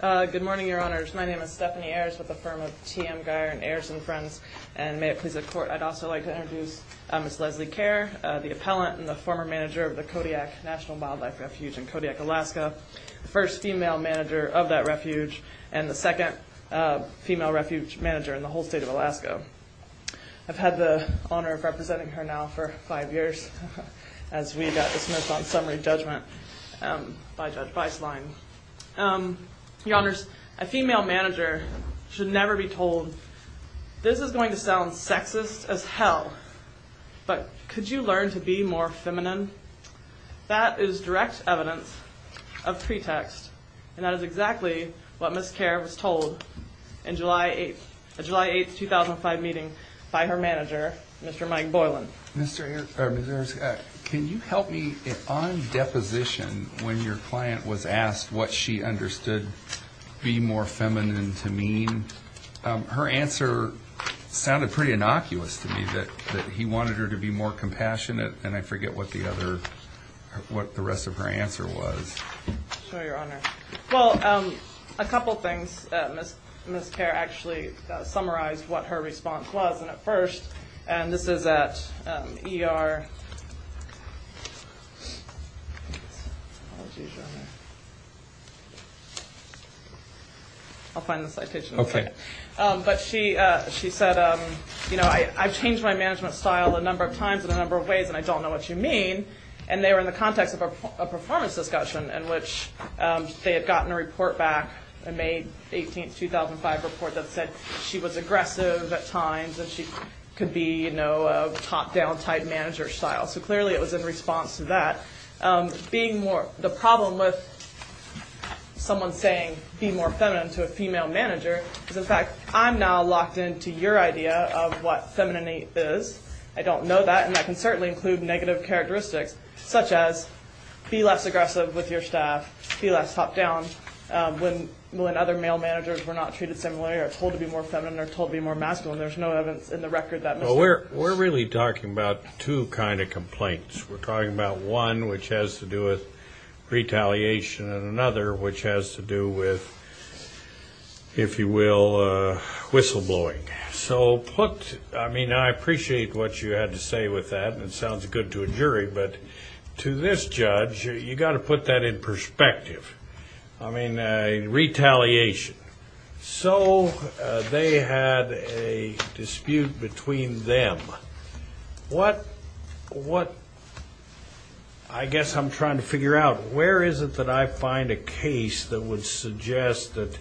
Good morning, Your Honors. My name is Stephanie Ayers with the firm of T.M. Geyer and Ayers and Friends, and may it please the Court, I'd also like to introduce Ms. Leslie Kerr, the appellant and the former manager of the Kodiak National Wildlife Refuge in Kodiak, Alaska, the first female manager of that refuge, and the second female refuge manager in the whole state of Alaska. I've had the honor of representing her now for five years, as we got dismissed on summary judgment by Judge Weisslein. Your Honors, a female manager should never be told, this is going to sound sexist as hell, but could you learn to be more feminine? That is direct evidence of pretext, and that is exactly what Ms. Kerr was told in a July 8, 2005 meeting by her manager, Mr. Mike Boylan. Mr. Ayers, can you help me, on deposition, when your client was asked what she understood being more feminine to mean, her answer sounded pretty innocuous to me, that he wanted her to be more compassionate, and I forget what the rest of her answer was. Sure, Your Honor. Well, a couple things, Ms. Kerr actually summarized what her response was, and at first, and this is at ER, I'll find the citation later, but she said, you know, I've changed my management style a number of times in a number of ways and I don't know what you mean, and they were in the context of a performance discussion in which they had gotten a report back, a May 18, 2005 report that said she was aggressive at times and she could be, you know, a top-down type manager style, so clearly it was in response to that. Being more, the problem with someone saying be more feminine to a female manager is, in fact, I'm now locked into your idea of what femininity is. I don't know that, and that can certainly include negative characteristics, such as be less aggressive with your staff, be less top-down when other male managers were not treated similarly or told to be more feminine or told to be more masculine. There's no evidence in the record that Mr. which has to do with retaliation and another which has to do with, if you will, whistleblowing. So put, I mean, I appreciate what you had to say with that, and it sounds good to a jury, but to this judge, you've got to put that in perspective. I mean, retaliation. So they had a dispute between them. What, I guess I'm trying to figure out, where is it that I find a case that would suggest that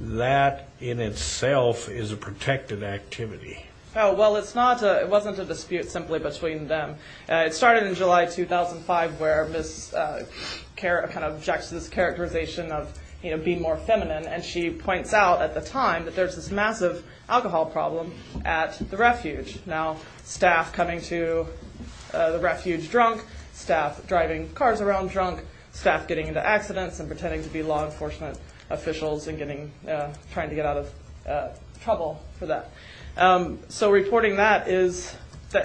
that in itself is a protected activity? Well, it's not a, it wasn't a dispute simply between them. It started in July 2005 where Ms. kind of objects to this characterization of being more feminine, and she points out at the time that there's this massive alcohol problem at the refuge. Now, staff coming to the refuge drunk, staff driving cars around drunk, staff getting into accidents and pretending to be law enforcement officials and getting, trying to get out of trouble for that. So reporting that is,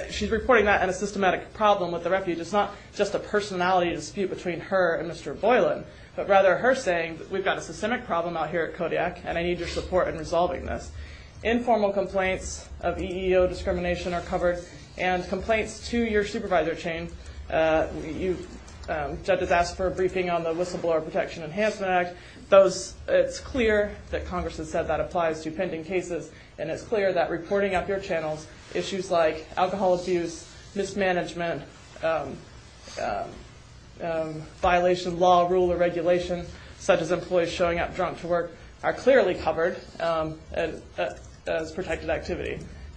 she's reporting that as a systematic problem with the refuge. It's not just a personality dispute between her and Mr. Boylan, but rather her saying, we've got a systemic problem out here at Kodiak, and I need your support in resolving this. Informal complaints of EEO discrimination are covered, and complaints to your supervisor chain. Judges asked for a briefing on the Whistleblower Protection Enhancement Act. Those, it's clear that Congress has said that applies to pending cases, and it's clear that reporting up your channels, issues like alcohol abuse, mismanagement, violation of law, rule, or regulation, such as employees showing up drunk to work, are clearly covered.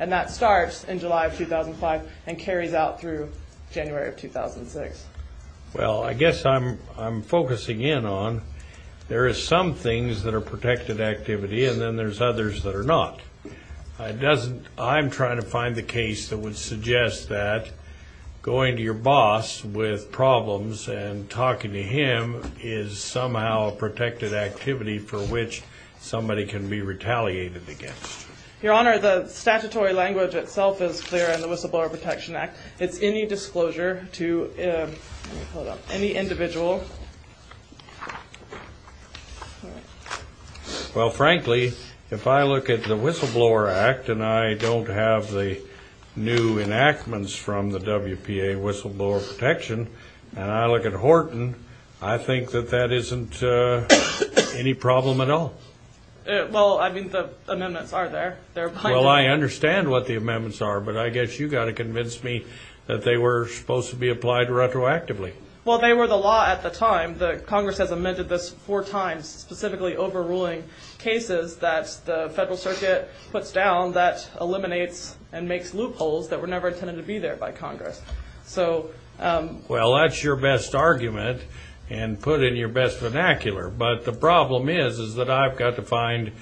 And that starts in July of 2005 and carries out through January of 2006. Well, I guess I'm, I'm focusing in on, there is some things that are protected activity, and then there's others that are not. It doesn't, I'm trying to find the case that would suggest that going to your boss with problems and talking to him is somehow a protected activity for which somebody can be retaliated against. Your Honor, the statutory language itself is clear in the Whistleblower Protection Act. It's any disclosure to any individual. Well, frankly, if I look at the Whistleblower Act, and I don't have the new enactments from the WPA Whistleblower Protection, and I look at Horton, I think that that isn't any problem at all. Well, I mean, the amendments are there. Well, I understand what the amendments are, but I guess you've got to convince me that they were supposed to be applied retroactively. Well, they were the law at the time. The Congress has amended this four times, specifically overruling cases that the Federal Circuit puts down that eliminates and makes loopholes that were never intended to be there by Congress. Well, that's your best argument, and put in your best vernacular, but the problem is that I've got to find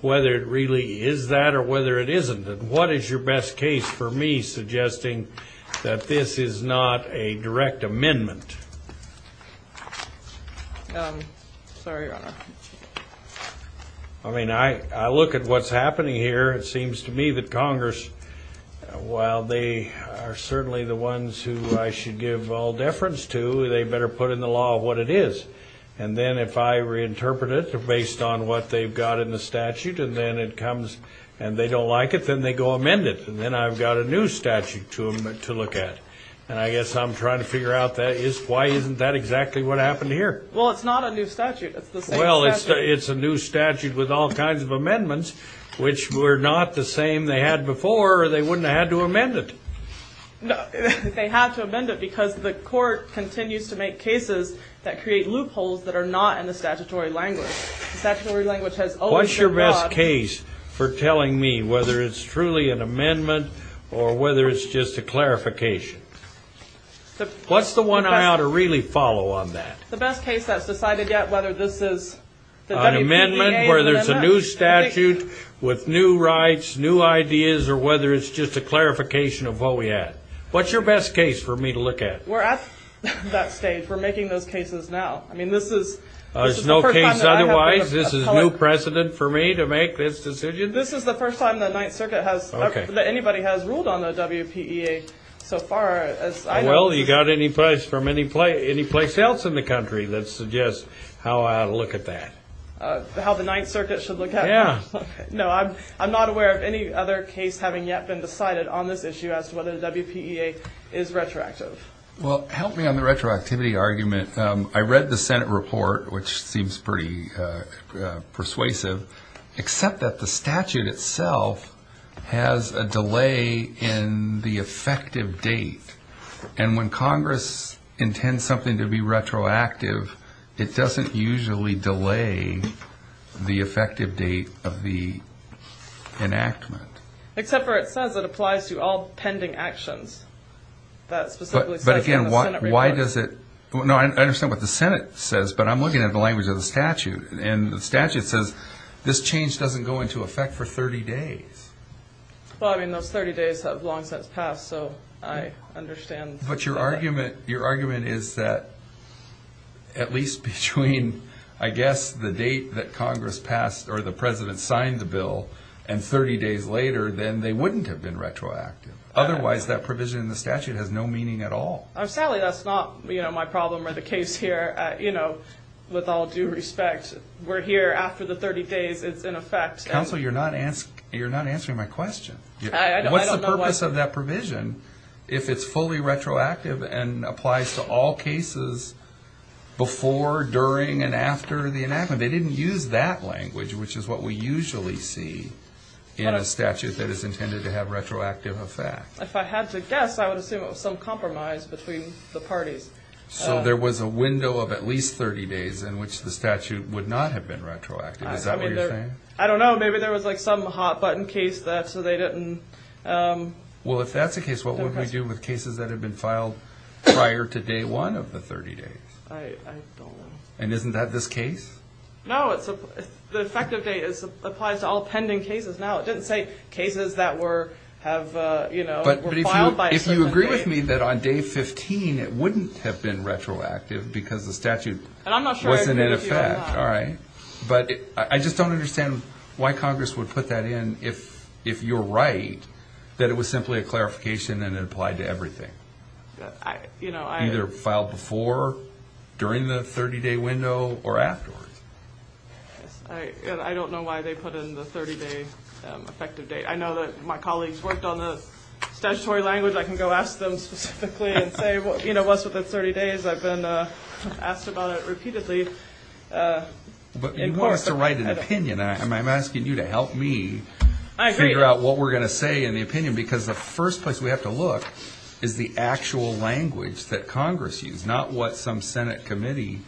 whether it really is that or whether it isn't. What is your best case for me suggesting that this is not a direct amendment? Sorry, Your Honor. I mean, I look at what's happening here. It seems to me that Congress, while they are certainly the ones who I should give all deference to, they better put in the law what it is. And then if I reinterpret it based on what they've got in the statute, and then it comes and they don't like it, then they go amend it, and then I've got a new statute to look at. And I guess I'm trying to figure out why isn't that exactly what happened here? Well, it's not a new statute. It's the same statute. Well, it's a new statute with all kinds of amendments, which were not the same they had before, or they wouldn't have had to amend it. They have to amend it because the Court continues to make cases that create loopholes that are not in the statutory language. The statutory language has always been broad. What's your best case for telling me whether it's truly an amendment or whether it's just a clarification? What's the one I ought to really follow on that? The best case that's decided yet, whether this is the WPEA amendment. An amendment where there's a new statute with new rights, new ideas, or whether it's just a clarification of what we had. What's your best case for me to look at? We're at that stage. We're making those cases now. There's no case otherwise? This is new precedent for me to make this decision? This is the first time the Ninth Circuit has, that anybody has ruled on the WPEA so far. Well, you got any place else in the country that suggests how I ought to look at that? How the Ninth Circuit should look at it? Yeah. No, I'm not aware of any other case having yet been decided on this issue as to whether the WPEA is retroactive. Well, help me on the retroactivity argument. I read the Senate report, which seems pretty persuasive, except that the statute itself has a delay in the effective date. And when Congress intends something to be retroactive, it doesn't usually delay the effective date of the enactment. Except for it says it applies to all pending actions. But again, why does it – no, I understand what the Senate says, but I'm looking at the language of the statute. And the statute says this change doesn't go into effect for 30 days. Well, I mean, those 30 days have long since passed, so I understand. But your argument is that at least between, I guess, the date that Congress passed or the President signed the bill, and 30 days later, then they wouldn't have been retroactive. Otherwise, that provision in the statute has no meaning at all. Sally, that's not my problem or the case here. You know, with all due respect, we're here after the 30 days. It's in effect. Counsel, you're not answering my question. What's the purpose of that provision if it's fully retroactive and applies to all cases before, during, and after the enactment? And they didn't use that language, which is what we usually see in a statute that is intended to have retroactive effects. If I had to guess, I would assume it was some compromise between the parties. So there was a window of at least 30 days in which the statute would not have been retroactive. Is that what you're saying? I don't know. Maybe there was, like, some hot-button case that – so they didn't – Well, if that's the case, what would we do with cases that have been filed prior to day one of the 30 days? I don't know. And isn't that this case? No, it's – the effective date applies to all pending cases. Now, it doesn't say cases that were – have, you know, were filed by a certain date. But if you agree with me that on day 15 it wouldn't have been retroactive because the statute wasn't in effect. And I'm not sure I agree with you on that. All right. But I just don't understand why Congress would put that in if you're right, that it was simply a clarification and it applied to everything. You know, I – Either filed before, during the 30-day window, or afterwards. I don't know why they put in the 30-day effective date. I know that my colleagues worked on the statutory language. I can go ask them specifically and say, you know, what's with the 30 days? I've been asked about it repeatedly. But you want us to write an opinion. I'm asking you to help me figure out what we're going to say in the opinion. Because the first place we have to look is the actual language that Congress used, not what some Senate committee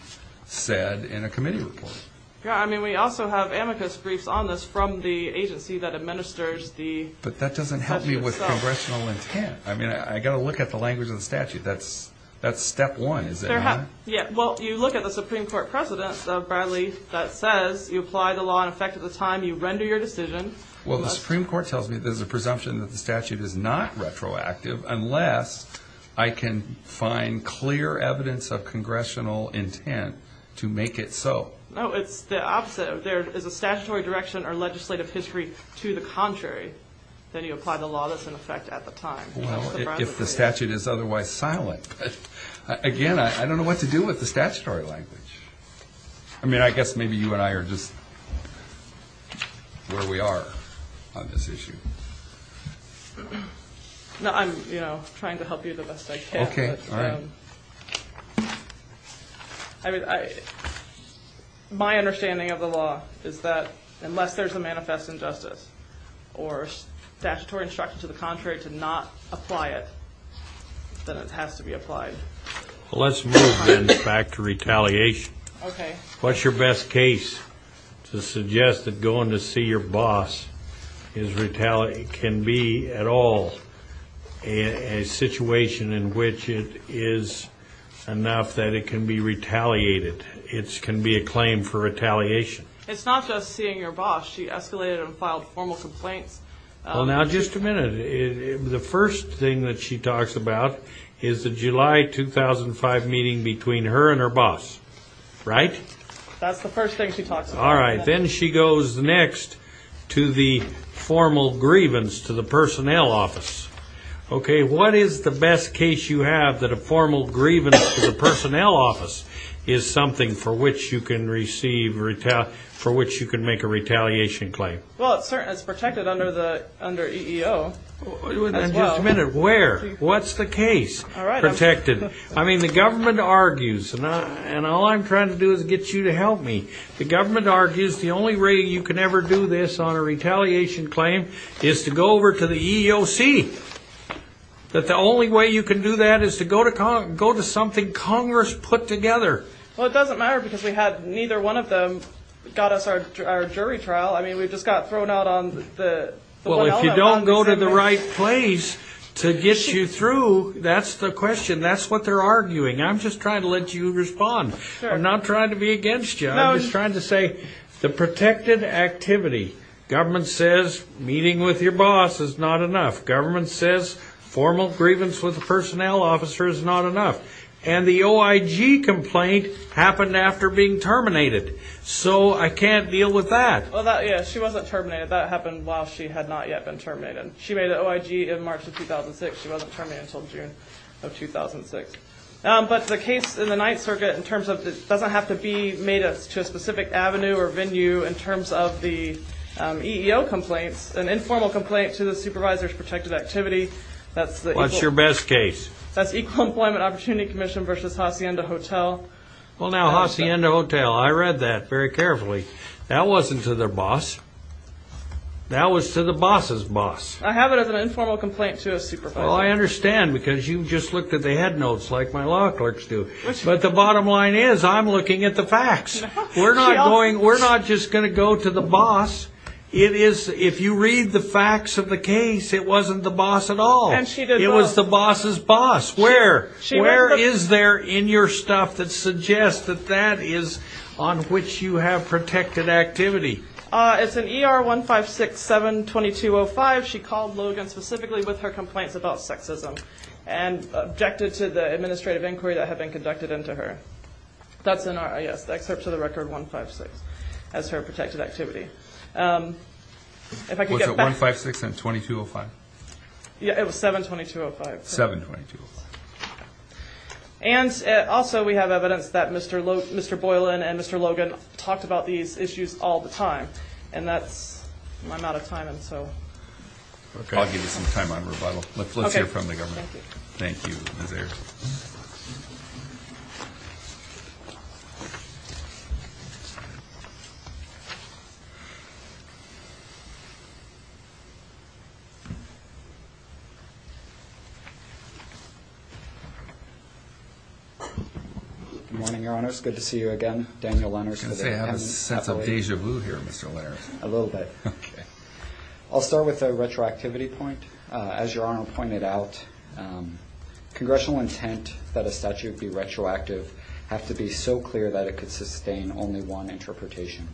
said in a committee report. Yeah, I mean, we also have amicus briefs on this from the agency that administers the statute itself. But that doesn't help me with congressional intent. I mean, I've got to look at the language of the statute. That's step one, is it? Yeah. Well, you look at the Supreme Court precedent, Bradley, that says you apply the law in effect at the time you render your decision. Well, the Supreme Court tells me there's a presumption that the statute is not retroactive unless I can find clear evidence of congressional intent to make it so. No, it's the opposite. There is a statutory direction or legislative history to the contrary that you apply the law that's in effect at the time. Well, if the statute is otherwise silent. Again, I don't know what to do with the statutory language. I mean, I guess maybe you and I are just where we are on this issue. No, I'm trying to help you the best I can. Okay, all right. My understanding of the law is that unless there's a manifest injustice or statutory instruction to the contrary to not apply it, then it has to be applied. Well, let's move then back to retaliation. Okay. What's your best case to suggest that going to see your boss can be at all a situation in which it is enough that it can be retaliated, it can be a claim for retaliation? It's not just seeing your boss. She escalated and filed formal complaints. Well, now, just a minute. The first thing that she talks about is the July 2005 meeting between her and her boss, right? That's the first thing she talks about. All right, then she goes next to the formal grievance to the personnel office. Okay, what is the best case you have that a formal grievance to the personnel office is something for which you can make a retaliation claim? Well, it's protected under EEO as well. Just a minute. Where? What's the case? All right. Protected. I mean, the government argues, and all I'm trying to do is get you to help me. The government argues the only way you can ever do this on a retaliation claim is to go over to the EEOC, that the only way you can do that is to go to something Congress put together. Well, it doesn't matter because neither one of them got us our jury trial. I mean, we just got thrown out on the one element. Well, if you don't go to the right place to get you through, that's the question. That's what they're arguing. I'm just trying to let you respond. I'm not trying to be against you. I'm just trying to say the protected activity. Government says meeting with your boss is not enough. Government says formal grievance with the personnel officer is not enough. And the OIG complaint happened after being terminated. So I can't deal with that. Well, yeah, she wasn't terminated. That happened while she had not yet been terminated. She made an OIG in March of 2006. She wasn't terminated until June of 2006. But the case in the Ninth Circuit in terms of it doesn't have to be made to a specific avenue or venue in terms of the EEO complaints, an informal complaint to the supervisor's protected activity. What's your best case? That's Equal Employment Opportunity Commission v. Hacienda Hotel. Well, now, Hacienda Hotel, I read that very carefully. That wasn't to their boss. That was to the boss's boss. I have it as an informal complaint to a supervisor. Well, I understand because you just looked at the head notes like my law clerks do. But the bottom line is I'm looking at the facts. We're not just going to go to the boss. If you read the facts of the case, it wasn't the boss at all. It was the boss's boss. Where? Where is there in your stuff that suggests that that is on which you have protected activity? It's in ER 1567-2205. She called Logan specifically with her complaints about sexism and objected to the administrative inquiry that had been conducted into her. That's in our, yes, excerpt to the record 156 as her protected activity. Was it 156 and 2205? It was 720205. 720205. And also we have evidence that Mr. Boylan and Mr. Logan talked about these issues all the time. And that's my amount of time, and so I'll give you some time on rebuttal. Let's hear from the government. Thank you. Thank you, Ms. Ayers. Good morning, Your Honors. Good to see you again. Daniel Lenners. I have a sense of deja vu here, Mr. Lenners. A little bit. Okay. I'll start with a retroactivity point. As Your Honor pointed out, congressional intent that a statute be retroactive have to be so clear that it could sustain only one interpretation.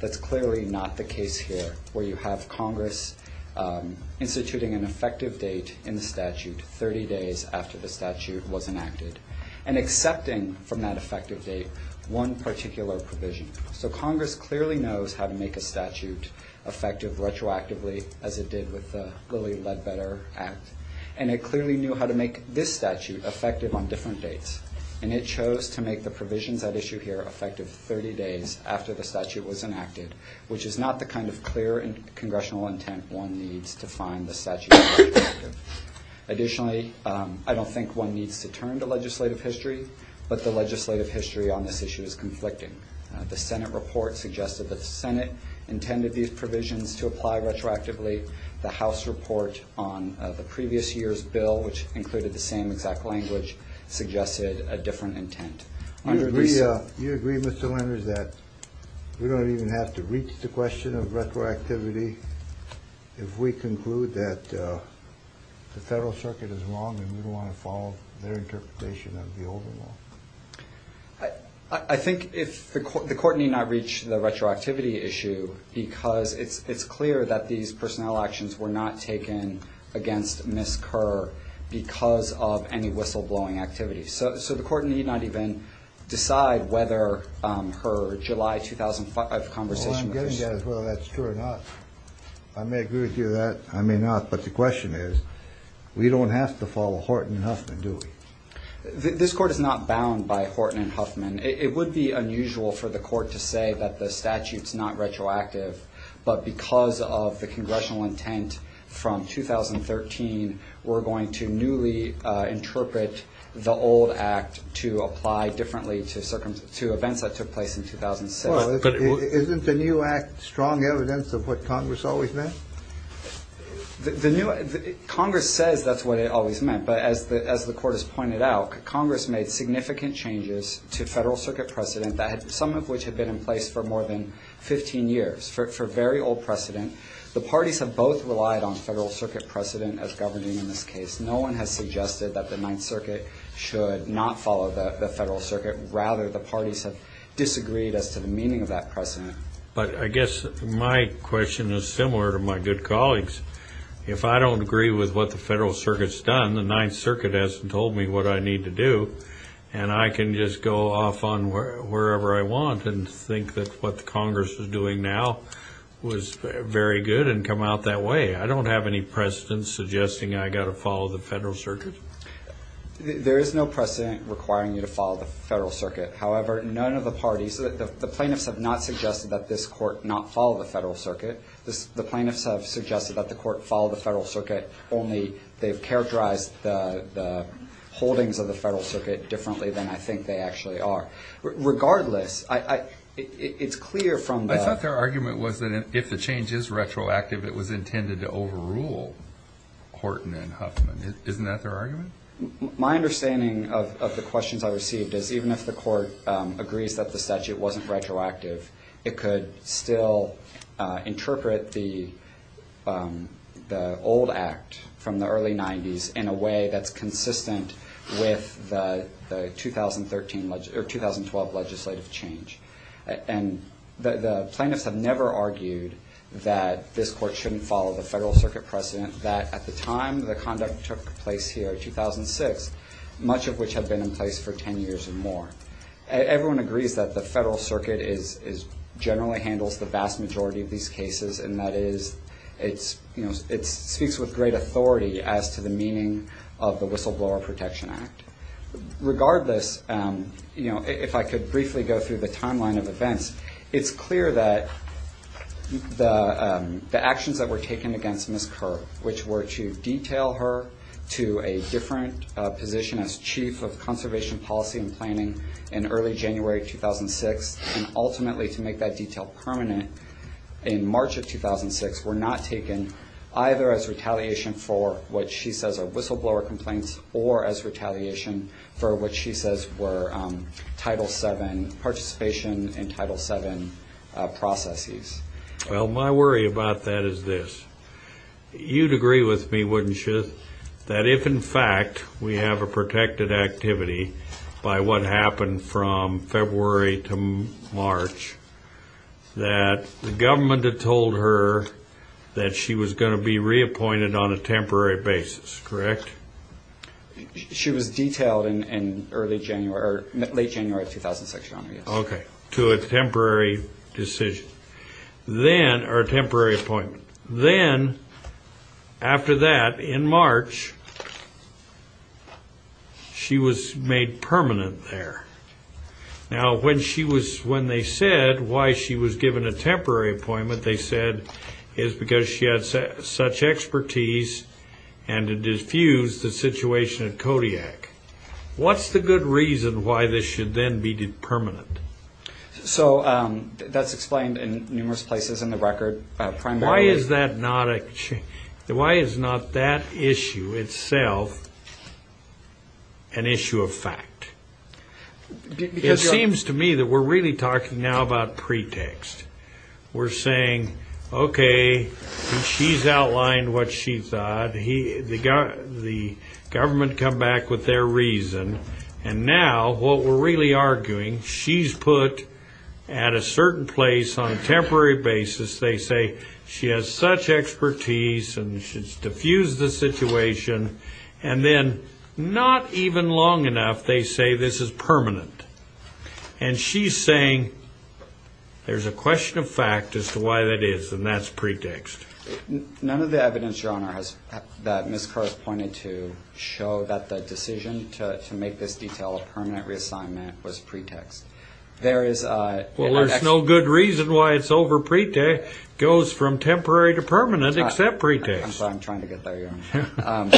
That's clearly not the case here where you have Congress instituting an effective date in the statute 30 days after the statute was enacted and accepting from that effective date one particular provision. So Congress clearly knows how to make a statute effective retroactively as it did with the Lilly Ledbetter Act, and it clearly knew how to make this statute effective on different dates, and it chose to make the provisions at issue here effective 30 days after the statute was enacted, which is not the kind of clear congressional intent one needs to find the statute retroactive. Additionally, I don't think one needs to turn to legislative history, but the legislative history on this issue is conflicting. The Senate report suggested that the Senate intended these provisions to apply retroactively. The House report on the previous year's bill, which included the same exact language, suggested a different intent. You agree, Mr. Lenners, that we don't even have to reach the question of retroactivity if we conclude that the Federal Circuit is wrong and we don't want to follow their interpretation of the old law? I think the Court need not reach the retroactivity issue because it's clear that these personnel actions were not taken against Ms. Kerr because of any whistleblowing activity. So the Court need not even decide whether her July 2005 conversation was true. What I'm getting at is whether that's true or not. I may agree with you on that. I may not. But the question is, we don't have to follow Horton and Huffman, do we? This Court is not bound by Horton and Huffman. It would be unusual for the Court to say that the statute's not retroactive, but because of the congressional intent from 2013, we're going to newly interpret the old act to apply differently to events that took place in 2006. Well, isn't the new act strong evidence of what Congress always meant? Congress says that's what it always meant, but as the Court has pointed out, Congress made significant changes to Federal Circuit precedent, some of which had been in place for more than 15 years, for very old precedent. The parties have both relied on Federal Circuit precedent as governing in this case. No one has suggested that the Ninth Circuit should not follow the Federal Circuit. Rather, the parties have disagreed as to the meaning of that precedent. But I guess my question is similar to my good colleague's. If I don't agree with what the Federal Circuit's done, the Ninth Circuit hasn't told me what I need to do, and I can just go off on wherever I want and think that what Congress is doing now was very good and come out that way. I don't have any precedent suggesting I've got to follow the Federal Circuit. There is no precedent requiring you to follow the Federal Circuit. However, none of the parties, the plaintiffs have not suggested that this Court not follow the Federal Circuit. The plaintiffs have suggested that the Court follow the Federal Circuit, only they've characterized the holdings of the Federal Circuit differently than I think they actually are. Regardless, it's clear from the- I thought their argument was that if the change is retroactive, it was intended to overrule Horton and Huffman. Isn't that their argument? My understanding of the questions I received is even if the Court agrees that the statute wasn't retroactive, it could still interpret the old act from the early 90s in a way that's consistent with the 2012 legislative change. And the plaintiffs have never argued that this Court shouldn't follow the Federal Circuit precedent, that at the time the conduct took place here in 2006, much of which had been in place for 10 years or more. Everyone agrees that the Federal Circuit generally handles the vast majority of these cases, and that is it speaks with great authority as to the meaning of the Whistleblower Protection Act. Regardless, if I could briefly go through the timeline of events, it's clear that the actions that were taken against Ms. Kirk, which were to detail her to a different position as Chief of Conservation Policy and Planning in early January 2006, and ultimately to make that detail permanent in March of 2006, were not taken either as retaliation for what she says are whistleblower complaints or as retaliation for what she says were Title VII participation and Title VII processes. Well, my worry about that is this. You'd agree with me, wouldn't you, that if, in fact, we have a protected activity by what happened from February to March, that the government had told her that she was going to be reappointed on a temporary basis, correct? She was detailed in late January of 2006, Your Honor, yes. Okay, to a temporary decision, or a temporary appointment. Then, after that, in March, she was made permanent there. Now, when they said why she was given a temporary appointment, they said it was because she had such expertise and to diffuse the situation at Kodiak. What's the good reason why this should then be permanent? So, that's explained in numerous places in the record. Why is that not a change? Why is not that issue itself an issue of fact? It seems to me that we're really talking now about pretext. We're saying, okay, she's outlined what she thought. The government come back with their reason. And now, what we're really arguing, she's put at a certain place on a temporary basis. They say she has such expertise and she's diffused the situation. And then, not even long enough, they say this is permanent. And she's saying there's a question of fact as to why that is, and that's pretext. None of the evidence, Your Honor, that Ms. Carr has pointed to show that the decision to make this detail a permanent reassignment was pretext. There is an excerpt. Well, there's no good reason why it's over pretext. It goes from temporary to permanent except pretext. That's what I'm trying to get there, Your Honor.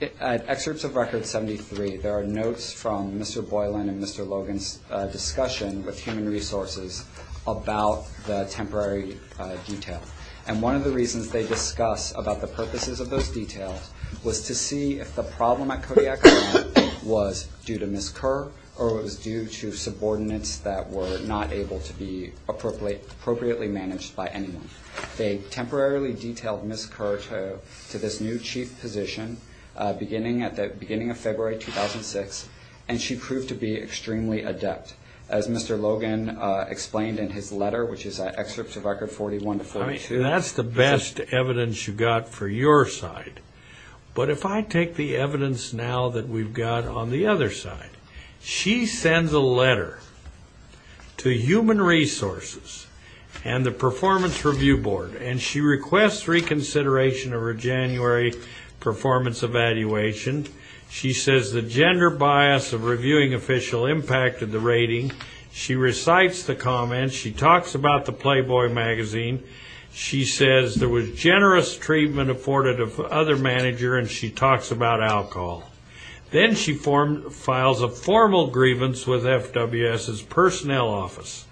In excerpts of Record 73, there are notes from Mr. Boylan and Mr. Logan's discussion with Human Resources about the temporary detail. And one of the reasons they discuss about the purposes of those details was to see if the problem at Kodiak was due to Ms. Carr or it was due to subordinates that were not able to be appropriately managed by anyone. They temporarily detailed Ms. Carr to this new chief position beginning of February 2006, and she proved to be extremely adept. As Mr. Logan explained in his letter, which is excerpts of Record 41 to 42. That's the best evidence you've got for your side. But if I take the evidence now that we've got on the other side, she sends a letter to Human Resources and the Performance Review Board, and she requests reconsideration of her January performance evaluation. She says the gender bias of reviewing official impacted the rating. She recites the comments. She talks about the Playboy magazine. She says there was generous treatment afforded of the other manager, and she talks about alcohol. Then she files a formal grievance with FWS's personnel office,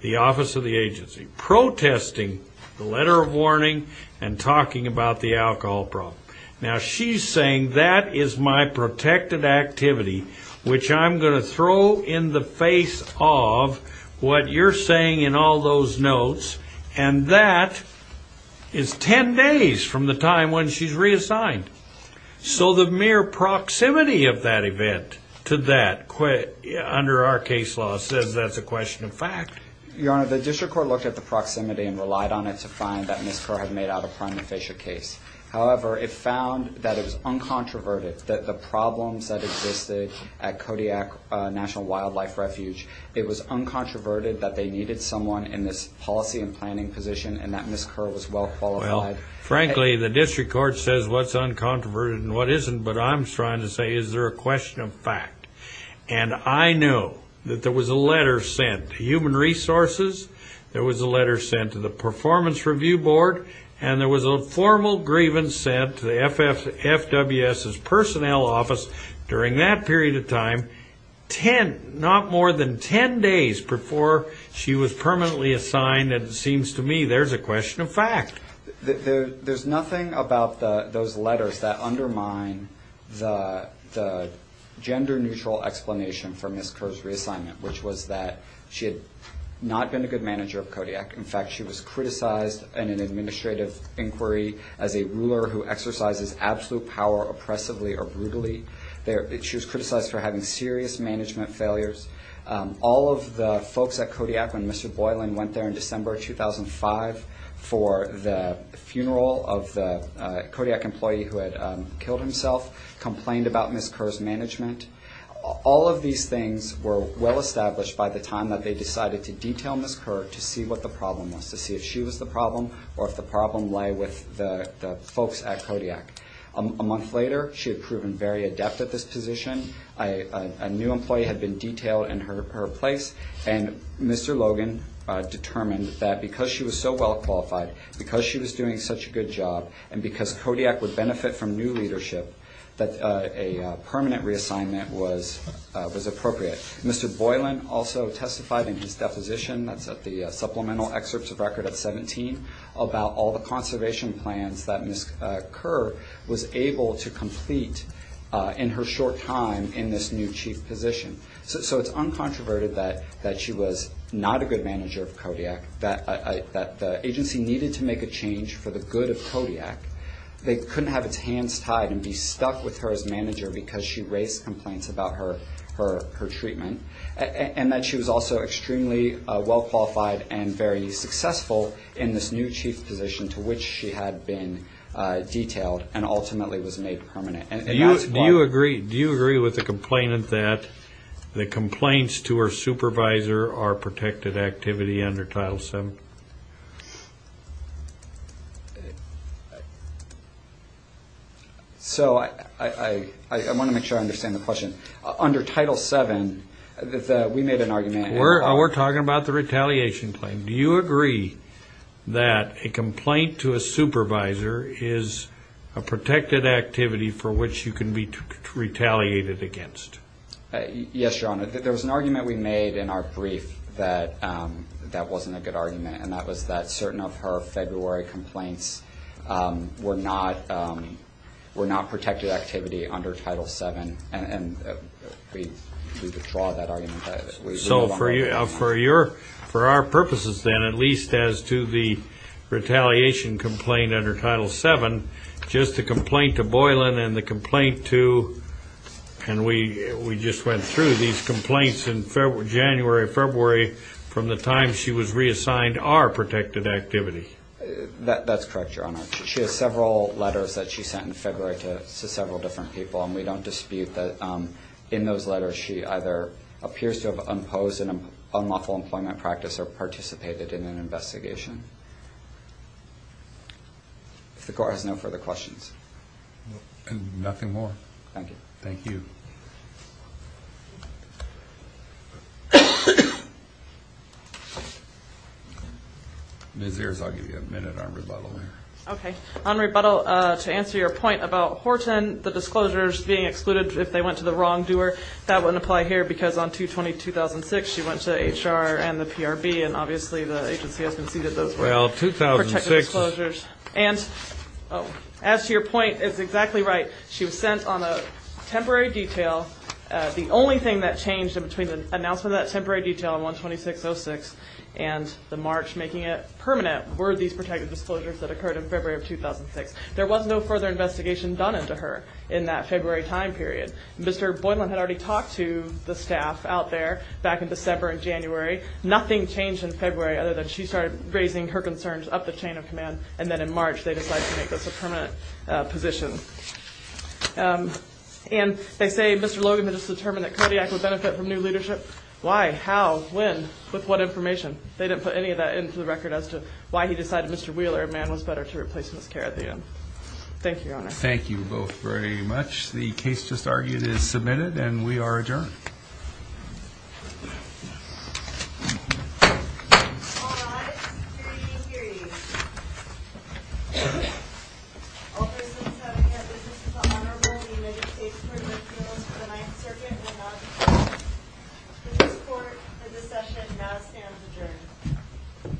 the office of the agency, protesting the letter of warning and talking about the alcohol problem. Now, she's saying that is my protected activity, which I'm going to throw in the face of what you're saying in all those notes, and that is 10 days from the time when she's reassigned. So the mere proximity of that event to that under our case law says that's a question of fact. Your Honor, the district court looked at the proximity and relied on it to find that Ms. Carr had made out a prima facie case. However, it found that it was uncontroverted, that the problems that existed at Kodiak National Wildlife Refuge, it was uncontroverted that they needed someone in this policy and planning position and that Ms. Carr was well qualified. Frankly, the district court says what's uncontroverted and what isn't, but I'm trying to say is there a question of fact. And I know that there was a letter sent to Human Resources, there was a letter sent to the Performance Review Board, and there was a formal grievance sent to the FWS's personnel office during that period of time, not more than 10 days before she was permanently assigned, and it seems to me there's a question of fact. There's nothing about those letters that undermine the gender-neutral explanation for Ms. Carr's reassignment, which was that she had not been a good manager of Kodiak. In fact, she was criticized in an administrative inquiry as a ruler who exercises absolute power oppressively or brutally. She was criticized for having serious management failures. All of the folks at Kodiak, when Mr. Boylan went there in December 2005 for the funeral of the Kodiak employee who had killed himself, complained about Ms. Carr's management. All of these things were well established by the time that they decided to detail Ms. Carr to see what the problem was, to see if she was the problem or if the problem lay with the folks at Kodiak. A month later, she had proven very adept at this position. A new employee had been detailed in her place, and Mr. Logan determined that because she was so well qualified, because she was doing such a good job, and because Kodiak would benefit from new leadership, that a permanent reassignment was appropriate. Mr. Boylan also testified in his deposition, that's at the Supplemental Excerpts of Record of 17, about all the conservation plans that Ms. Carr was able to complete in her short time in this new chief position. So it's uncontroverted that she was not a good manager of Kodiak, that the agency needed to make a change for the good of Kodiak. They couldn't have its hands tied and be stuck with her as manager because she raised complaints about her treatment, and that she was also extremely well qualified and very successful in this new chief position to which she had been detailed and ultimately was made permanent. Do you agree with the complainant that the complaints to her supervisor are protected activity under Title VII? So I want to make sure I understand the question. Under Title VII, we made an argument. We're talking about the retaliation claim. Do you agree that a complaint to a supervisor is a protected activity for which you can be retaliated against? Yes, Your Honor. There was an argument we made in our brief that that wasn't a good argument. And that was that certain of her February complaints were not protected activity under Title VII. And we withdraw that argument. So for our purposes then, at least as to the retaliation complaint under Title VII, just the complaint to Boylan and the complaint to ñ and we just went through these complaints in January, February, from the time she was reassigned are protected activity. That's correct, Your Honor. She has several letters that she sent in February to several different people, and we don't dispute that in those letters she either appears to have imposed an unlawful employment practice or participated in an investigation. If the Court has no further questions. Nothing more. Thank you. Ms. Ayers, I'll give you a minute on rebuttal here. Okay. On rebuttal, to answer your point about Horton, the disclosures being excluded if they went to the wrongdoer, that wouldn't apply here because on 2-20-2006 she went to HR and the PRB, and obviously the agency has conceded those were protected disclosures. Well, 2006 ñ And as to your point, it's exactly right. She was sent on a temporary detail. The only thing that changed in between the announcement of that temporary detail on 1-26-06 and the March making it permanent were these protected disclosures that occurred in February of 2006. There was no further investigation done into her in that February time period. Mr. Boylan had already talked to the staff out there back in December and January. Nothing changed in February other than she started raising her concerns up the chain of command, and then in March they decided to make this a permanent position. And they say Mr. Logan had just determined that Kodiak would benefit from new leadership. Why, how, when, with what information? They didn't put any of that into the record as to why he decided Mr. Wheeler, a man, was better to replace Ms. Kerr at the end. Thank you, Your Honor. Thank you both very much. The case just argued is submitted, and we are adjourned. All rise for the hearing. All persons having a business with the Honorable, the United States Court of Appeals, for the Ninth Circuit will now depart. The court for this session now stands adjourned.